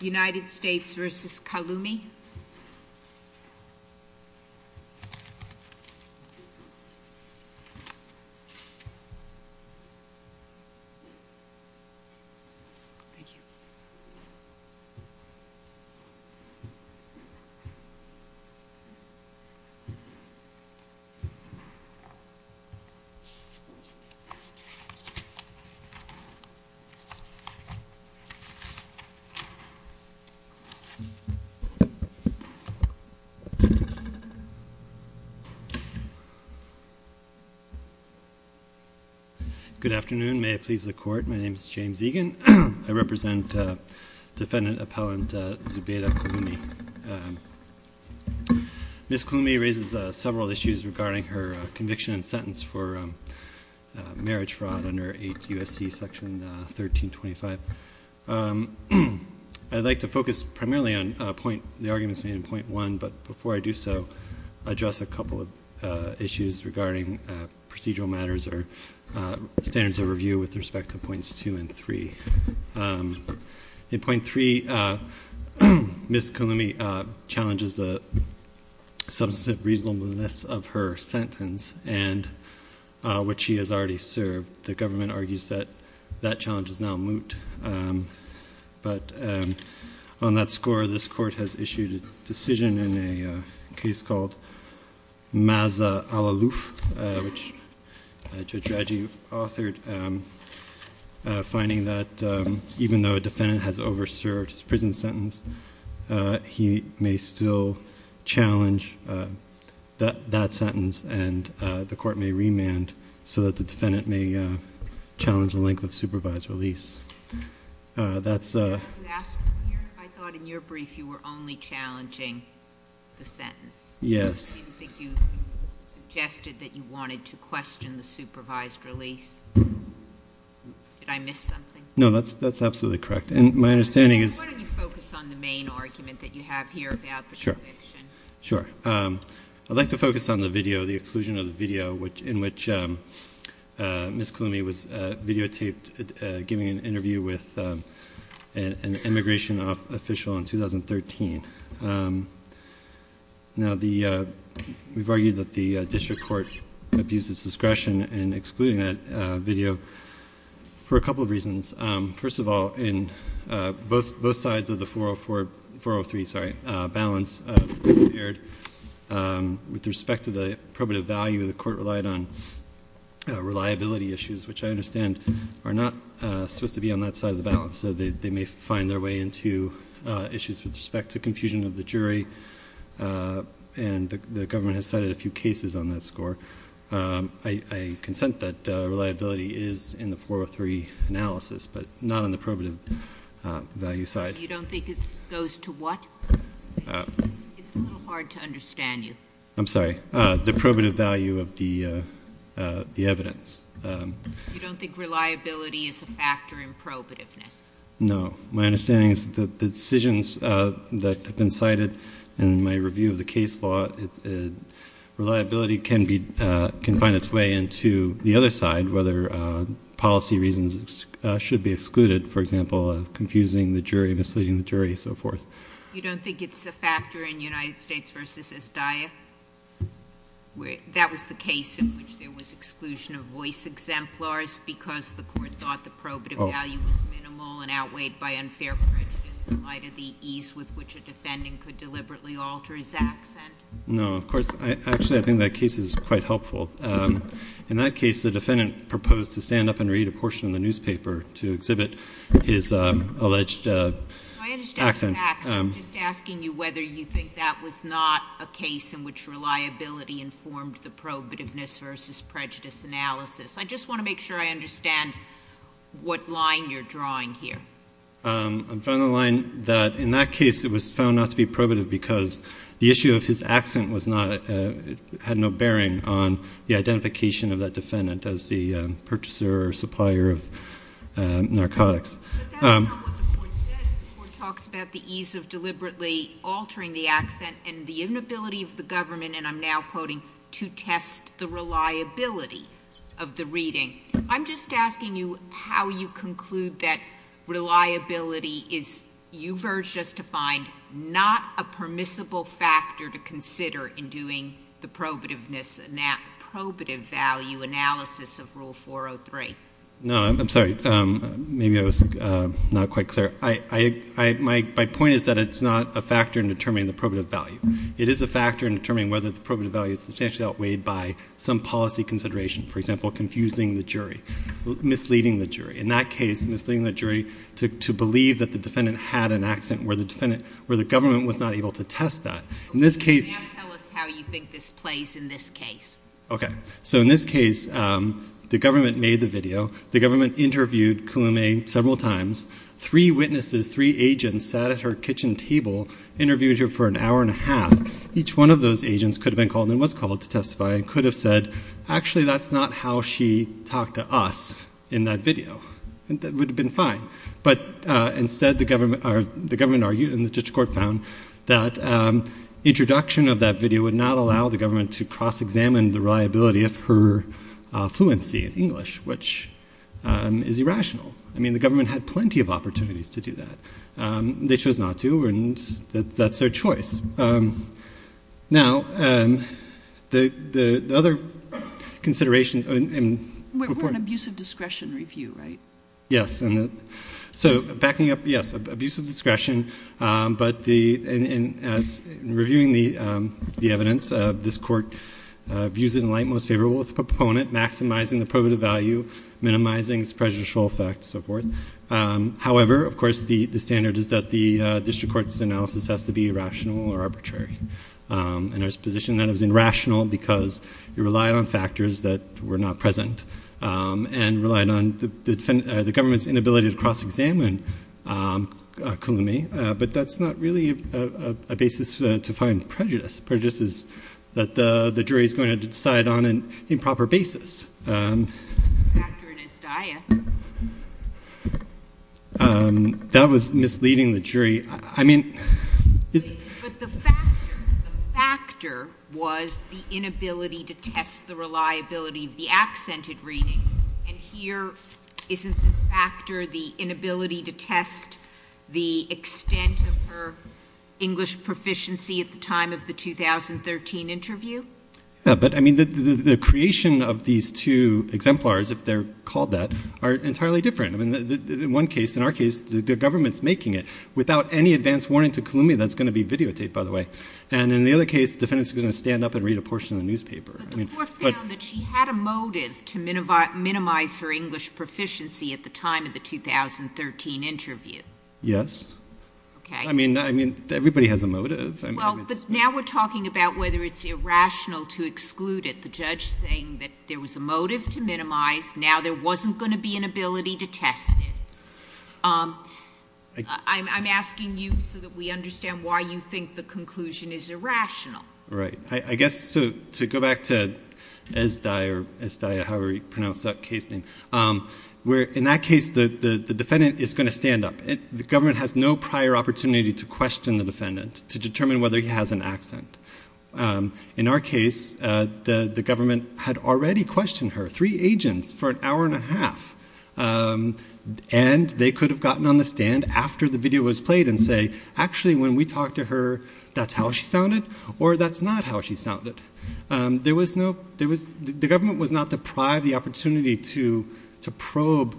United States v. Kalumi Good afternoon. May I please the court. My name is James Egan. I represent defendant appellant Zubeda Kalumi. Ms. Kalumi raises several issues regarding her conviction and I'd like to focus primarily on the arguments made in point one, but before I do so, address a couple of issues regarding procedural matters or standards of review with respect to points two and three. In point three, Ms. Kalumi challenges the substantive reasonableness of her sentence and which she has already served. The government argues that that challenge is now moot, but on that score, this court has issued a decision in a case called Maza al-Aluf, which Judge Raji authored, finding that even though a defendant has overserved his prison sentence, he may still challenge that sentence and the court may remand so that the defendant may challenge the length of supervised release. I thought in your brief, you were only challenging the sentence. Yes. You suggested that you wanted to question the supervised release. Did I miss something? No, that's absolutely correct. Why don't you focus on the main argument that you have here about the conviction? Sure. I'd like to focus on the video, the exclusion of the video in which Ms. Kalumi was videotaped giving an interview with an immigration official in 2013. We've argued that the district court abused its discretion in excluding that video for a couple of reasons. First of all, in both sides of the 403 balance, with respect to the probative value, the court relied on reliability issues, which I understand are not supposed to be on that side of the balance, so they may find their way into issues with respect to confusion of the jury, and the government has cited a few cases on that score. I consent that reliability is in the balance, but not on the probative value side. You don't think it goes to what? It's a little hard to understand you. I'm sorry. The probative value of the evidence. You don't think reliability is a factor in probativeness? No. My understanding is that the decisions that have been cited in my review of the case law, reliability can find its way into the other side, whether policy reasons should be excluded, for example, confusing the jury, misleading the jury, and so forth. You don't think it's a factor in United States v. Esdaya? That was the case in which there was exclusion of voice exemplars because the court thought the probative value was minimal and outweighed by unfair prejudice in light of the ease with which a defendant could deliberately alter his accent? No, of course. Actually, I think that case is quite helpful. In that case, the defendant proposed to stand up and read a portion of the newspaper to exhibit his alleged accent. I understand the accent. I'm just asking you whether you think that was not a case in which reliability informed the probativeness v. prejudice analysis. I just want to make sure I understand what line you're drawing here. I'm drawing the line that in that case it was found not to be probative because the purchaser or supplier of narcotics. But that's not what the court says. The court talks about the ease of deliberately altering the accent and the inability of the government, and I'm now quoting, to test the reliability of the reading. I'm just asking you how you conclude that reliability is, you've urged us to find, not a permissible factor to consider in doing the probativeness, probative value analysis of Rule 403. No, I'm sorry. Maybe I was not quite clear. My point is that it's not a factor in determining the probative value. It is a factor in determining whether the probative value is substantially outweighed by some policy consideration, for example, confusing the jury, misleading the jury. In that case, misleading the jury to believe that the defendant had an accent where the government was not able to test that. Now tell us how you think this plays in this case. Okay. So in this case, the government made the video. The government interviewed Koume several times. Three witnesses, three agents, sat at her kitchen table, interviewed her for an hour and a half. Each one of those agents could have been called and was called to testify and could have said, actually, that's not how she talked to us in that video. That would have been fine. But instead, the government argued and the district court found that introduction of that video would not allow the government to cross-examine the reliability of her fluency in English, which is irrational. I mean, the government had plenty of opportunities to do that. They chose not to, and that's their choice. Now, the other consideration... We're on abuse of discretion review, right? Yes. So backing up, yes, abuse of discretion. But in reviewing the evidence, this court views it in light most favorable of the proponent, maximizing the probative value, minimizing its prejudicial effects, so forth. However, of course, the standard is that the district court's analysis has to be irrational or arbitrary. And there's a position that it was the government's inability to cross-examine. But that's not really a basis to find prejudice. Prejudice is that the jury is going to decide on an improper basis. That was misleading the jury. I mean... But the factor was the inability to test the reliability of the accented reading. And here, isn't the factor the inability to test the extent of her English proficiency at the time of the 2013 interview? Yeah. But, I mean, the creation of these two exemplars, if they're called that, are entirely different. I mean, in one case, in our case, the government's making it without any advance warning to Columbia that's going to be videotaped, by the way. And in the other case, the defendant is going to stand up and read a portion of the newspaper. But the court found that she had a motive to minimize her English proficiency at the time of the 2013 interview. Yes. Okay. I mean, everybody has a motive. Well, but now we're talking about whether it's irrational to exclude it. The judge saying that there was a motive to minimize. Now there wasn't going to be an ability to test it. I'm asking you so that we understand why you think the conclusion is irrational. Right. I guess to go back to Esdai, or Esdai, however you pronounce that case name, where in that case, the defendant is going to stand up. The government has no prior opportunity to question the defendant to determine whether he has an accent. In our case, the government had already questioned her, three agents, for an hour and a half. And they could have gotten on the stand after the video was played and say, actually, when we talked to her, that's how she sounded, or that's not how she sounded. The government was not deprived of the opportunity to probe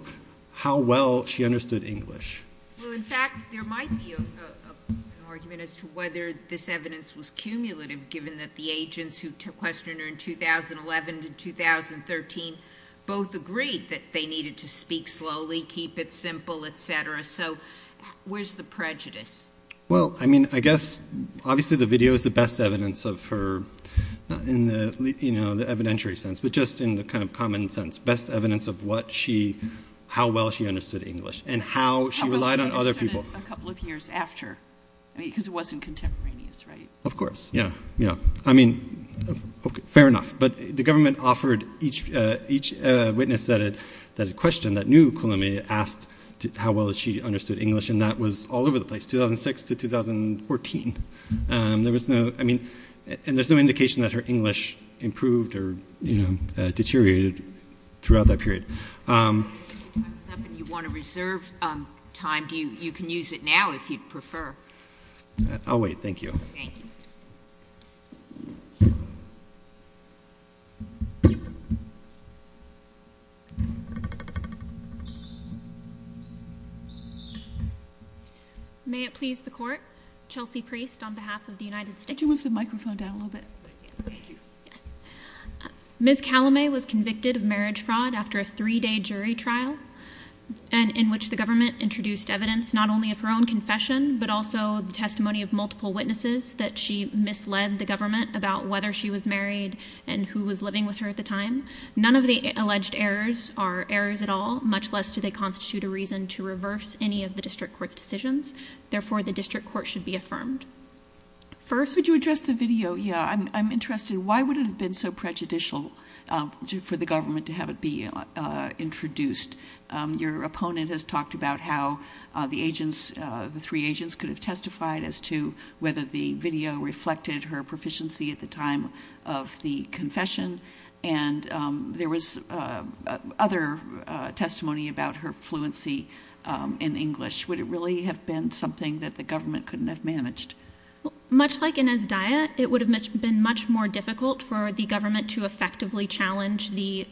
how well she understood English. Well, in fact, there might be an argument as to whether this evidence was cumulative, given that the agents who questioned her in 2011 to 2013 both agreed that they needed to speak slowly, keep it simple, et cetera. So where's the prejudice? Well, I mean, I guess obviously the video is the best evidence of her, not in the evidentiary sense, but just in the kind of common sense, best evidence of how well she understood English and how she relied on other people. How well she understood it a couple of years after, because it wasn't contemporaneous, right? Of course. Yeah. Yeah. I mean, fair enough. But the government offered each witness that had questioned, that knew Kulame, asked how well she understood English. And that was all over the place, 2006 to 2014. There was no, I mean, and there's no indication that her English improved or deteriorated throughout that period. Time's up. If you want to reserve time, you can use it now if you'd prefer. I'll wait. Thank you. Thank you. May it please the court. Chelsea Priest on behalf of the United States. Could you move the microphone down a little bit? Thank you. Yes. Ms. Kulame was convicted of marriage fraud after a three-day jury trial and in which the government introduced evidence not only of her own confession, but also the testimony of multiple witnesses that she misled the government about whether she was married and who was living with her at the time. None of the alleged errors are errors at all, much less do they constitute a reason to reverse any of the district court's decisions. Therefore, the district court should be affirmed. First— Could you address the video? Yeah, I'm interested. Why would it have been so prejudicial for the government to have it be introduced? Your opponent has talked about how the agents, the three agents could have testified as to whether the video reflected her proficiency at the time of the confession, and there was other testimony about her fluency in English. Would it really have been something that the government couldn't have managed? Much like in Azdaya, it would have been much more difficult for the government to effectively challenge the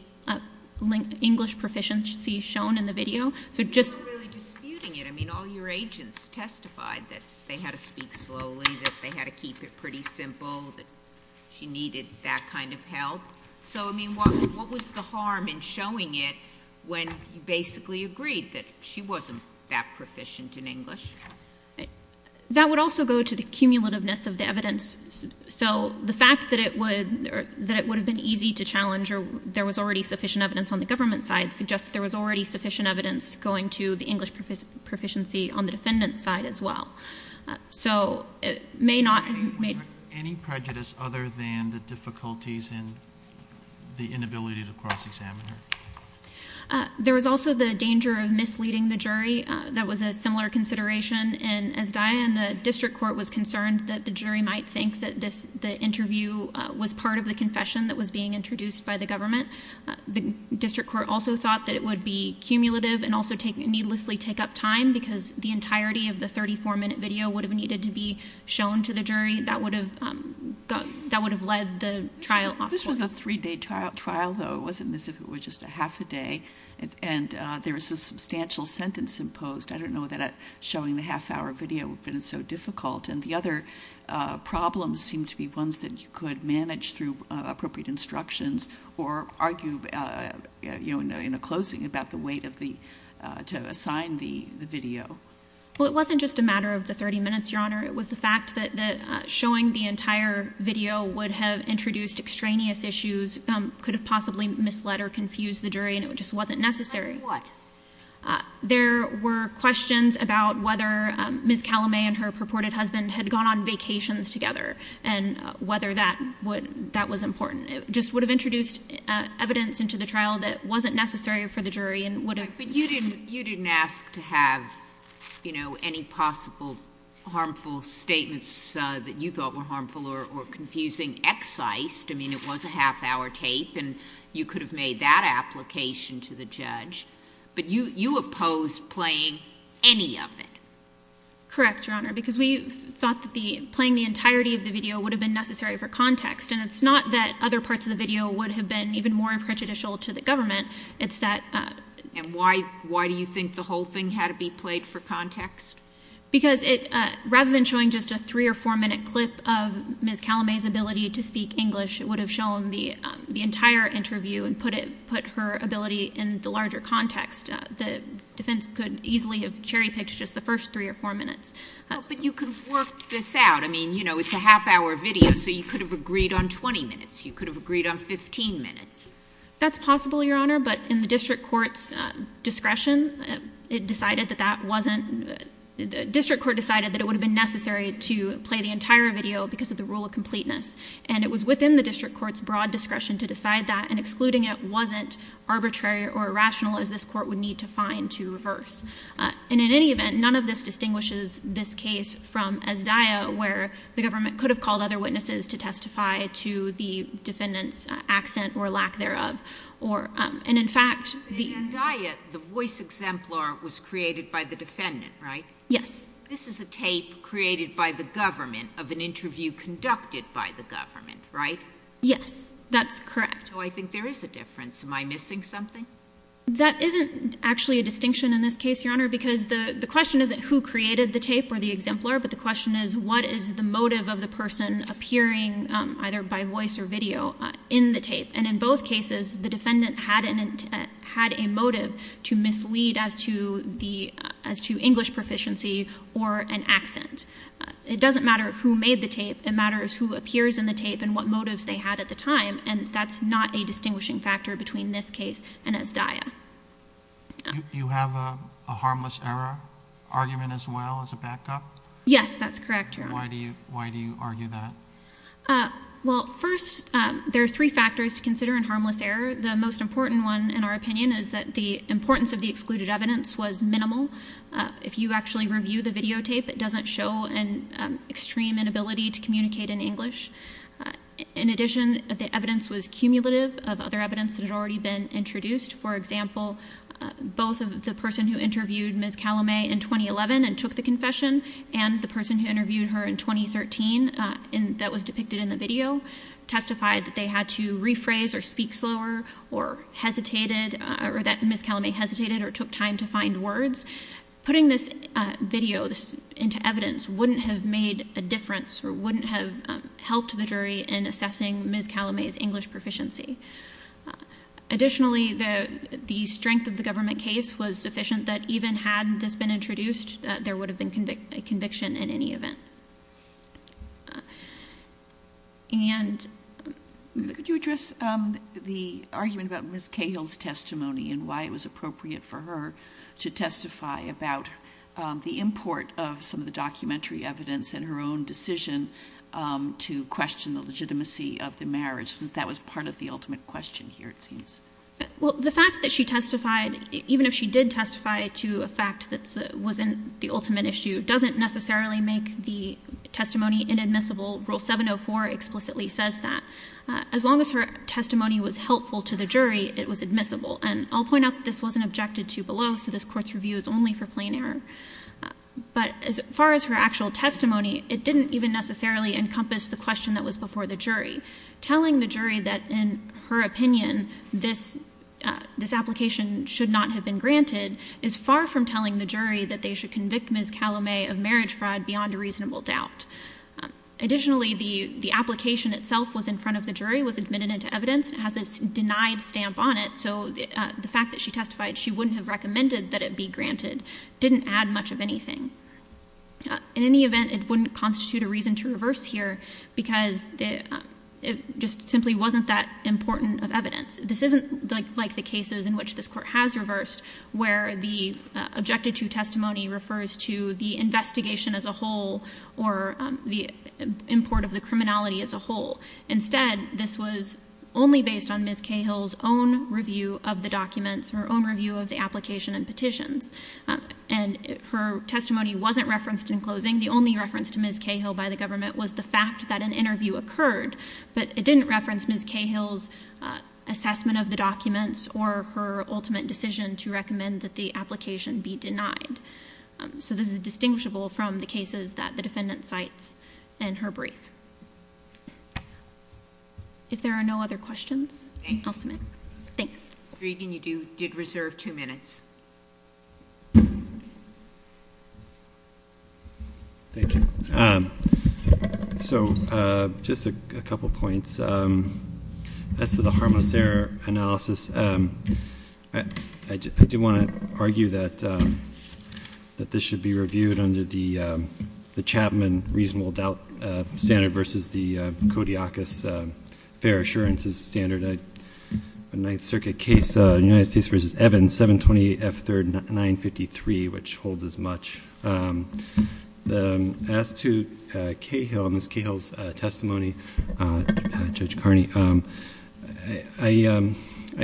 English proficiency shown in the video. You're not really disputing it. I mean, all your agents testified that they had to speak pretty simple, that she needed that kind of help. So, I mean, what was the harm in showing it when you basically agreed that she wasn't that proficient in English? That would also go to the cumulativeness of the evidence. So the fact that it would have been easy to challenge or there was already sufficient evidence on the government side suggests that there was already sufficient evidence going to the English proficiency on the defendant's side as well. So, it may not... Was there any prejudice other than the difficulties in the inability to cross-examine her? There was also the danger of misleading the jury. That was a similar consideration in Azdaya, and the district court was concerned that the jury might think that the interview was part of the confession that was being introduced by the government. The district court also thought that it would be cumulative and also needlessly take up time because the entirety of the 34-minute video would have needed to be shown to the jury. That would have led the trial... This was a three-day trial, though. It wasn't as if it was just a half a day. And there was a substantial sentence imposed. I don't know that showing the half-hour video would have been so difficult. And the other problems seemed to be ones that you could manage through appropriate instructions or argue in a closing about the weight to assign the video. Well, it wasn't just a matter of the 30 minutes, Your Honor. It was the fact that showing the entire video would have introduced extraneous issues, could have possibly misled or confused the jury, and it just wasn't necessary. Like what? There were questions about whether Ms. Calame and her purported husband had gone on That was important. It just would have introduced evidence into the trial that wasn't necessary for the jury and would have... But you didn't ask to have any possible harmful statements that you thought were harmful or confusing excised. I mean, it was a half-hour tape, and you could have made that application to the judge. But you opposed playing any of it. Correct, Your Honor, because we thought that playing the entirety of the video would have been necessary for context. And it's not that other parts of the video would have been even more prejudicial to the government. It's that... And why do you think the whole thing had to be played for context? Because rather than showing just a three- or four-minute clip of Ms. Calame's ability to speak English, it would have shown the entire interview and put her ability in the larger context. The defense could easily have cherry-picked just the first three or four minutes. But you could have worked this out. I mean, you know, it's a half-hour video, so you could have agreed on 20 minutes. You could have agreed on 15 minutes. That's possible, Your Honor, but in the district court's discretion, it decided that that wasn't... The district court decided that it would have been necessary to play the entire video because of the rule of completeness. And it was within the district court's broad discretion to decide that, and excluding it wasn't arbitrary or rational, as this court would need to find to reverse. And in any event, none of this distinguishes this case from Azdaya, where the government could have called other witnesses to testify to the defendant's accent or lack thereof. And in fact, the... In Azdaya, the voice exemplar was created by the defendant, right? Yes. This is a tape created by the government of an interview conducted by the government, right? Yes, that's correct. So I think there is a difference. Am I missing something? That isn't actually a distinction in this case, Your Honor, because the question isn't who created the tape or the exemplar, but the question is what is the motive of the person appearing either by voice or video in the tape. And in both cases, the defendant had a motive to mislead as to English proficiency or an accent. It doesn't matter who made the tape. It matters who appears in the tape and what motives they had at the time, and that's not a distinguishing factor between this case and Azdaya. You have a harmless error argument as well as a backup? Yes, that's correct, Your Honor. Why do you argue that? Well, first, there are three factors to consider in harmless error. The most important one, in our opinion, is that the importance of the excluded evidence was minimal. If you actually review the videotape, it doesn't show an extreme inability to communicate in English. In addition, the evidence was For example, both of the person who interviewed Ms. Calame in 2011 and took the confession and the person who interviewed her in 2013 that was depicted in the video testified that they had to rephrase or speak slower or hesitated or that Ms. Calame hesitated or took time to find words. Putting this video into evidence wouldn't have made a difference or wouldn't have helped the jury in assessing Ms. Calame's English proficiency. Additionally, the strength of the government case was sufficient that even had this been introduced, there would have been a conviction in any event. Could you address the argument about Ms. Cahill's testimony and why it was appropriate for her to testify about the import of some of the documentary evidence and her own decision to question the legitimacy of the marriage? That that was part of the ultimate question here, it seems. Well, the fact that she testified, even if she did testify to a fact that wasn't the ultimate issue, doesn't necessarily make the testimony inadmissible. Rule 704 explicitly says that. As long as her testimony was helpful to the jury, it was admissible. And I'll point out that this wasn't objected to below, so this didn't even necessarily encompass the question that was before the jury. Telling the jury that, in her opinion, this application should not have been granted is far from telling the jury that they should convict Ms. Calame of marriage fraud beyond a reasonable doubt. Additionally, the application itself was in front of the jury, was admitted into evidence, and has a denied stamp on it, so the fact that she testified she wouldn't have recommended that it be granted didn't add much of anything. In any event, it wouldn't constitute a reason to reverse here, because it just simply wasn't that important of evidence. This isn't like the cases in which this Court has reversed, where the objected to testimony refers to the investigation as a whole, or the import of the criminality as a whole. Instead, this was only based on Ms. Cahill's own review of the documents, her own review of the application and petitions. And her testimony wasn't referenced in closing. The only reference to Ms. Cahill by the government was the fact that an interview occurred, but it didn't reference Ms. Cahill's assessment of the documents or her ultimate decision to recommend that the application be denied. So this is distinguishable from the cases that the defendant cites in her brief. If there are no other questions, I'll submit. Thanks. Ms. Breeden, you did reserve two minutes. Thank you. So just a couple points. As to the harmless error analysis, I do want to argue that this should be reviewed under the Capman Reasonable Doubt Standard versus the Kodiakus Fair Assurance Standard, a Ninth Circuit case, United States v. Evans, 720 F. 3rd 953, which holds as much. As to Ms. Cahill's testimony, Judge Carney, I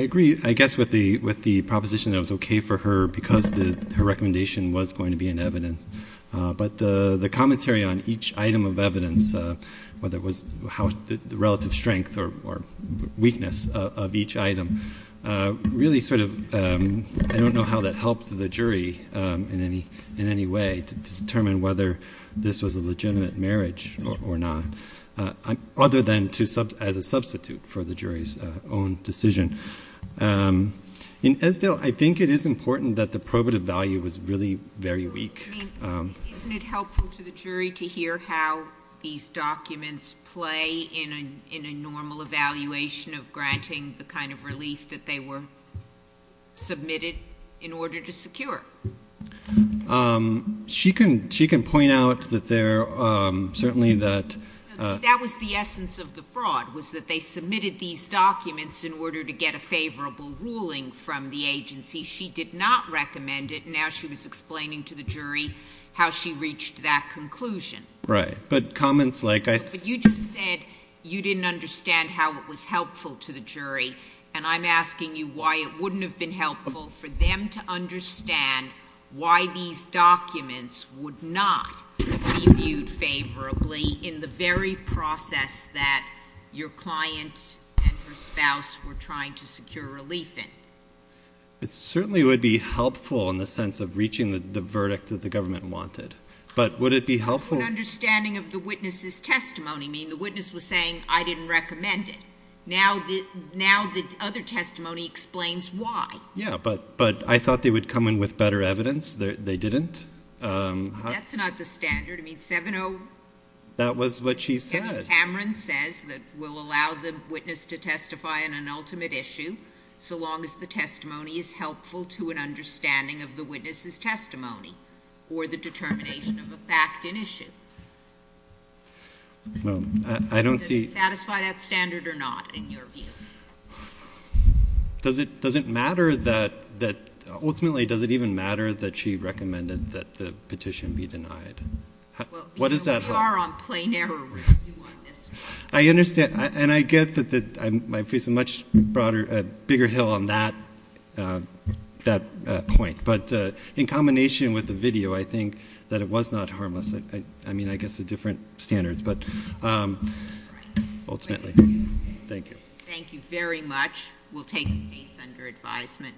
agree, I guess, with the proposition that it was okay for her because her recommendation was going to be in evidence. But the commentary on each item of evidence, whether it was the relative strength or weakness of each item, really sort of, I don't know how that helped the jury in any way to determine whether this was a legitimate marriage or not, other than as a substitute for the jury's own decision. Ms. Esdell, I think it is important that the probative value was really very weak. Isn't it helpful to the jury to hear how these documents play in a normal evaluation of granting the kind of relief that they were submitted in order to secure? She can point out that there, certainly that That was the essence of the fraud, was that they submitted these documents in order to get a favorable ruling from the agency. She did not recommend it, and now she was explaining to the jury how she reached that conclusion. Right. But comments like You just said you didn't understand how it was helpful to the jury, and I'm asking you why it wouldn't have been helpful for them to understand why these documents would not be viewed favorably in the very process that your client and her spouse were trying to secure relief in. It certainly would be helpful in the sense of reaching the verdict that the government wanted. But would it be helpful In understanding of the witness's testimony, I mean, the witness was saying, I didn't recommend it. Now the other testimony explains why. Yeah, but I thought they would come in with better evidence. They didn't. That's not the standard. I mean, 7-0 That was what she said. Kevin Cameron says that we'll allow the witness to testify on an ultimate issue so long as the testimony is helpful to an understanding of the witness's testimony or the determination of a fact in issue. Does it satisfy that standard or not, in your view? Does it matter that, ultimately, does it even matter that she recommended that the petition be denied? Because we are on plain error I understand. And I get that I'm facing a much broader, bigger hill on that point. But in Thank you. Thank you very much. We'll take a case under advisement.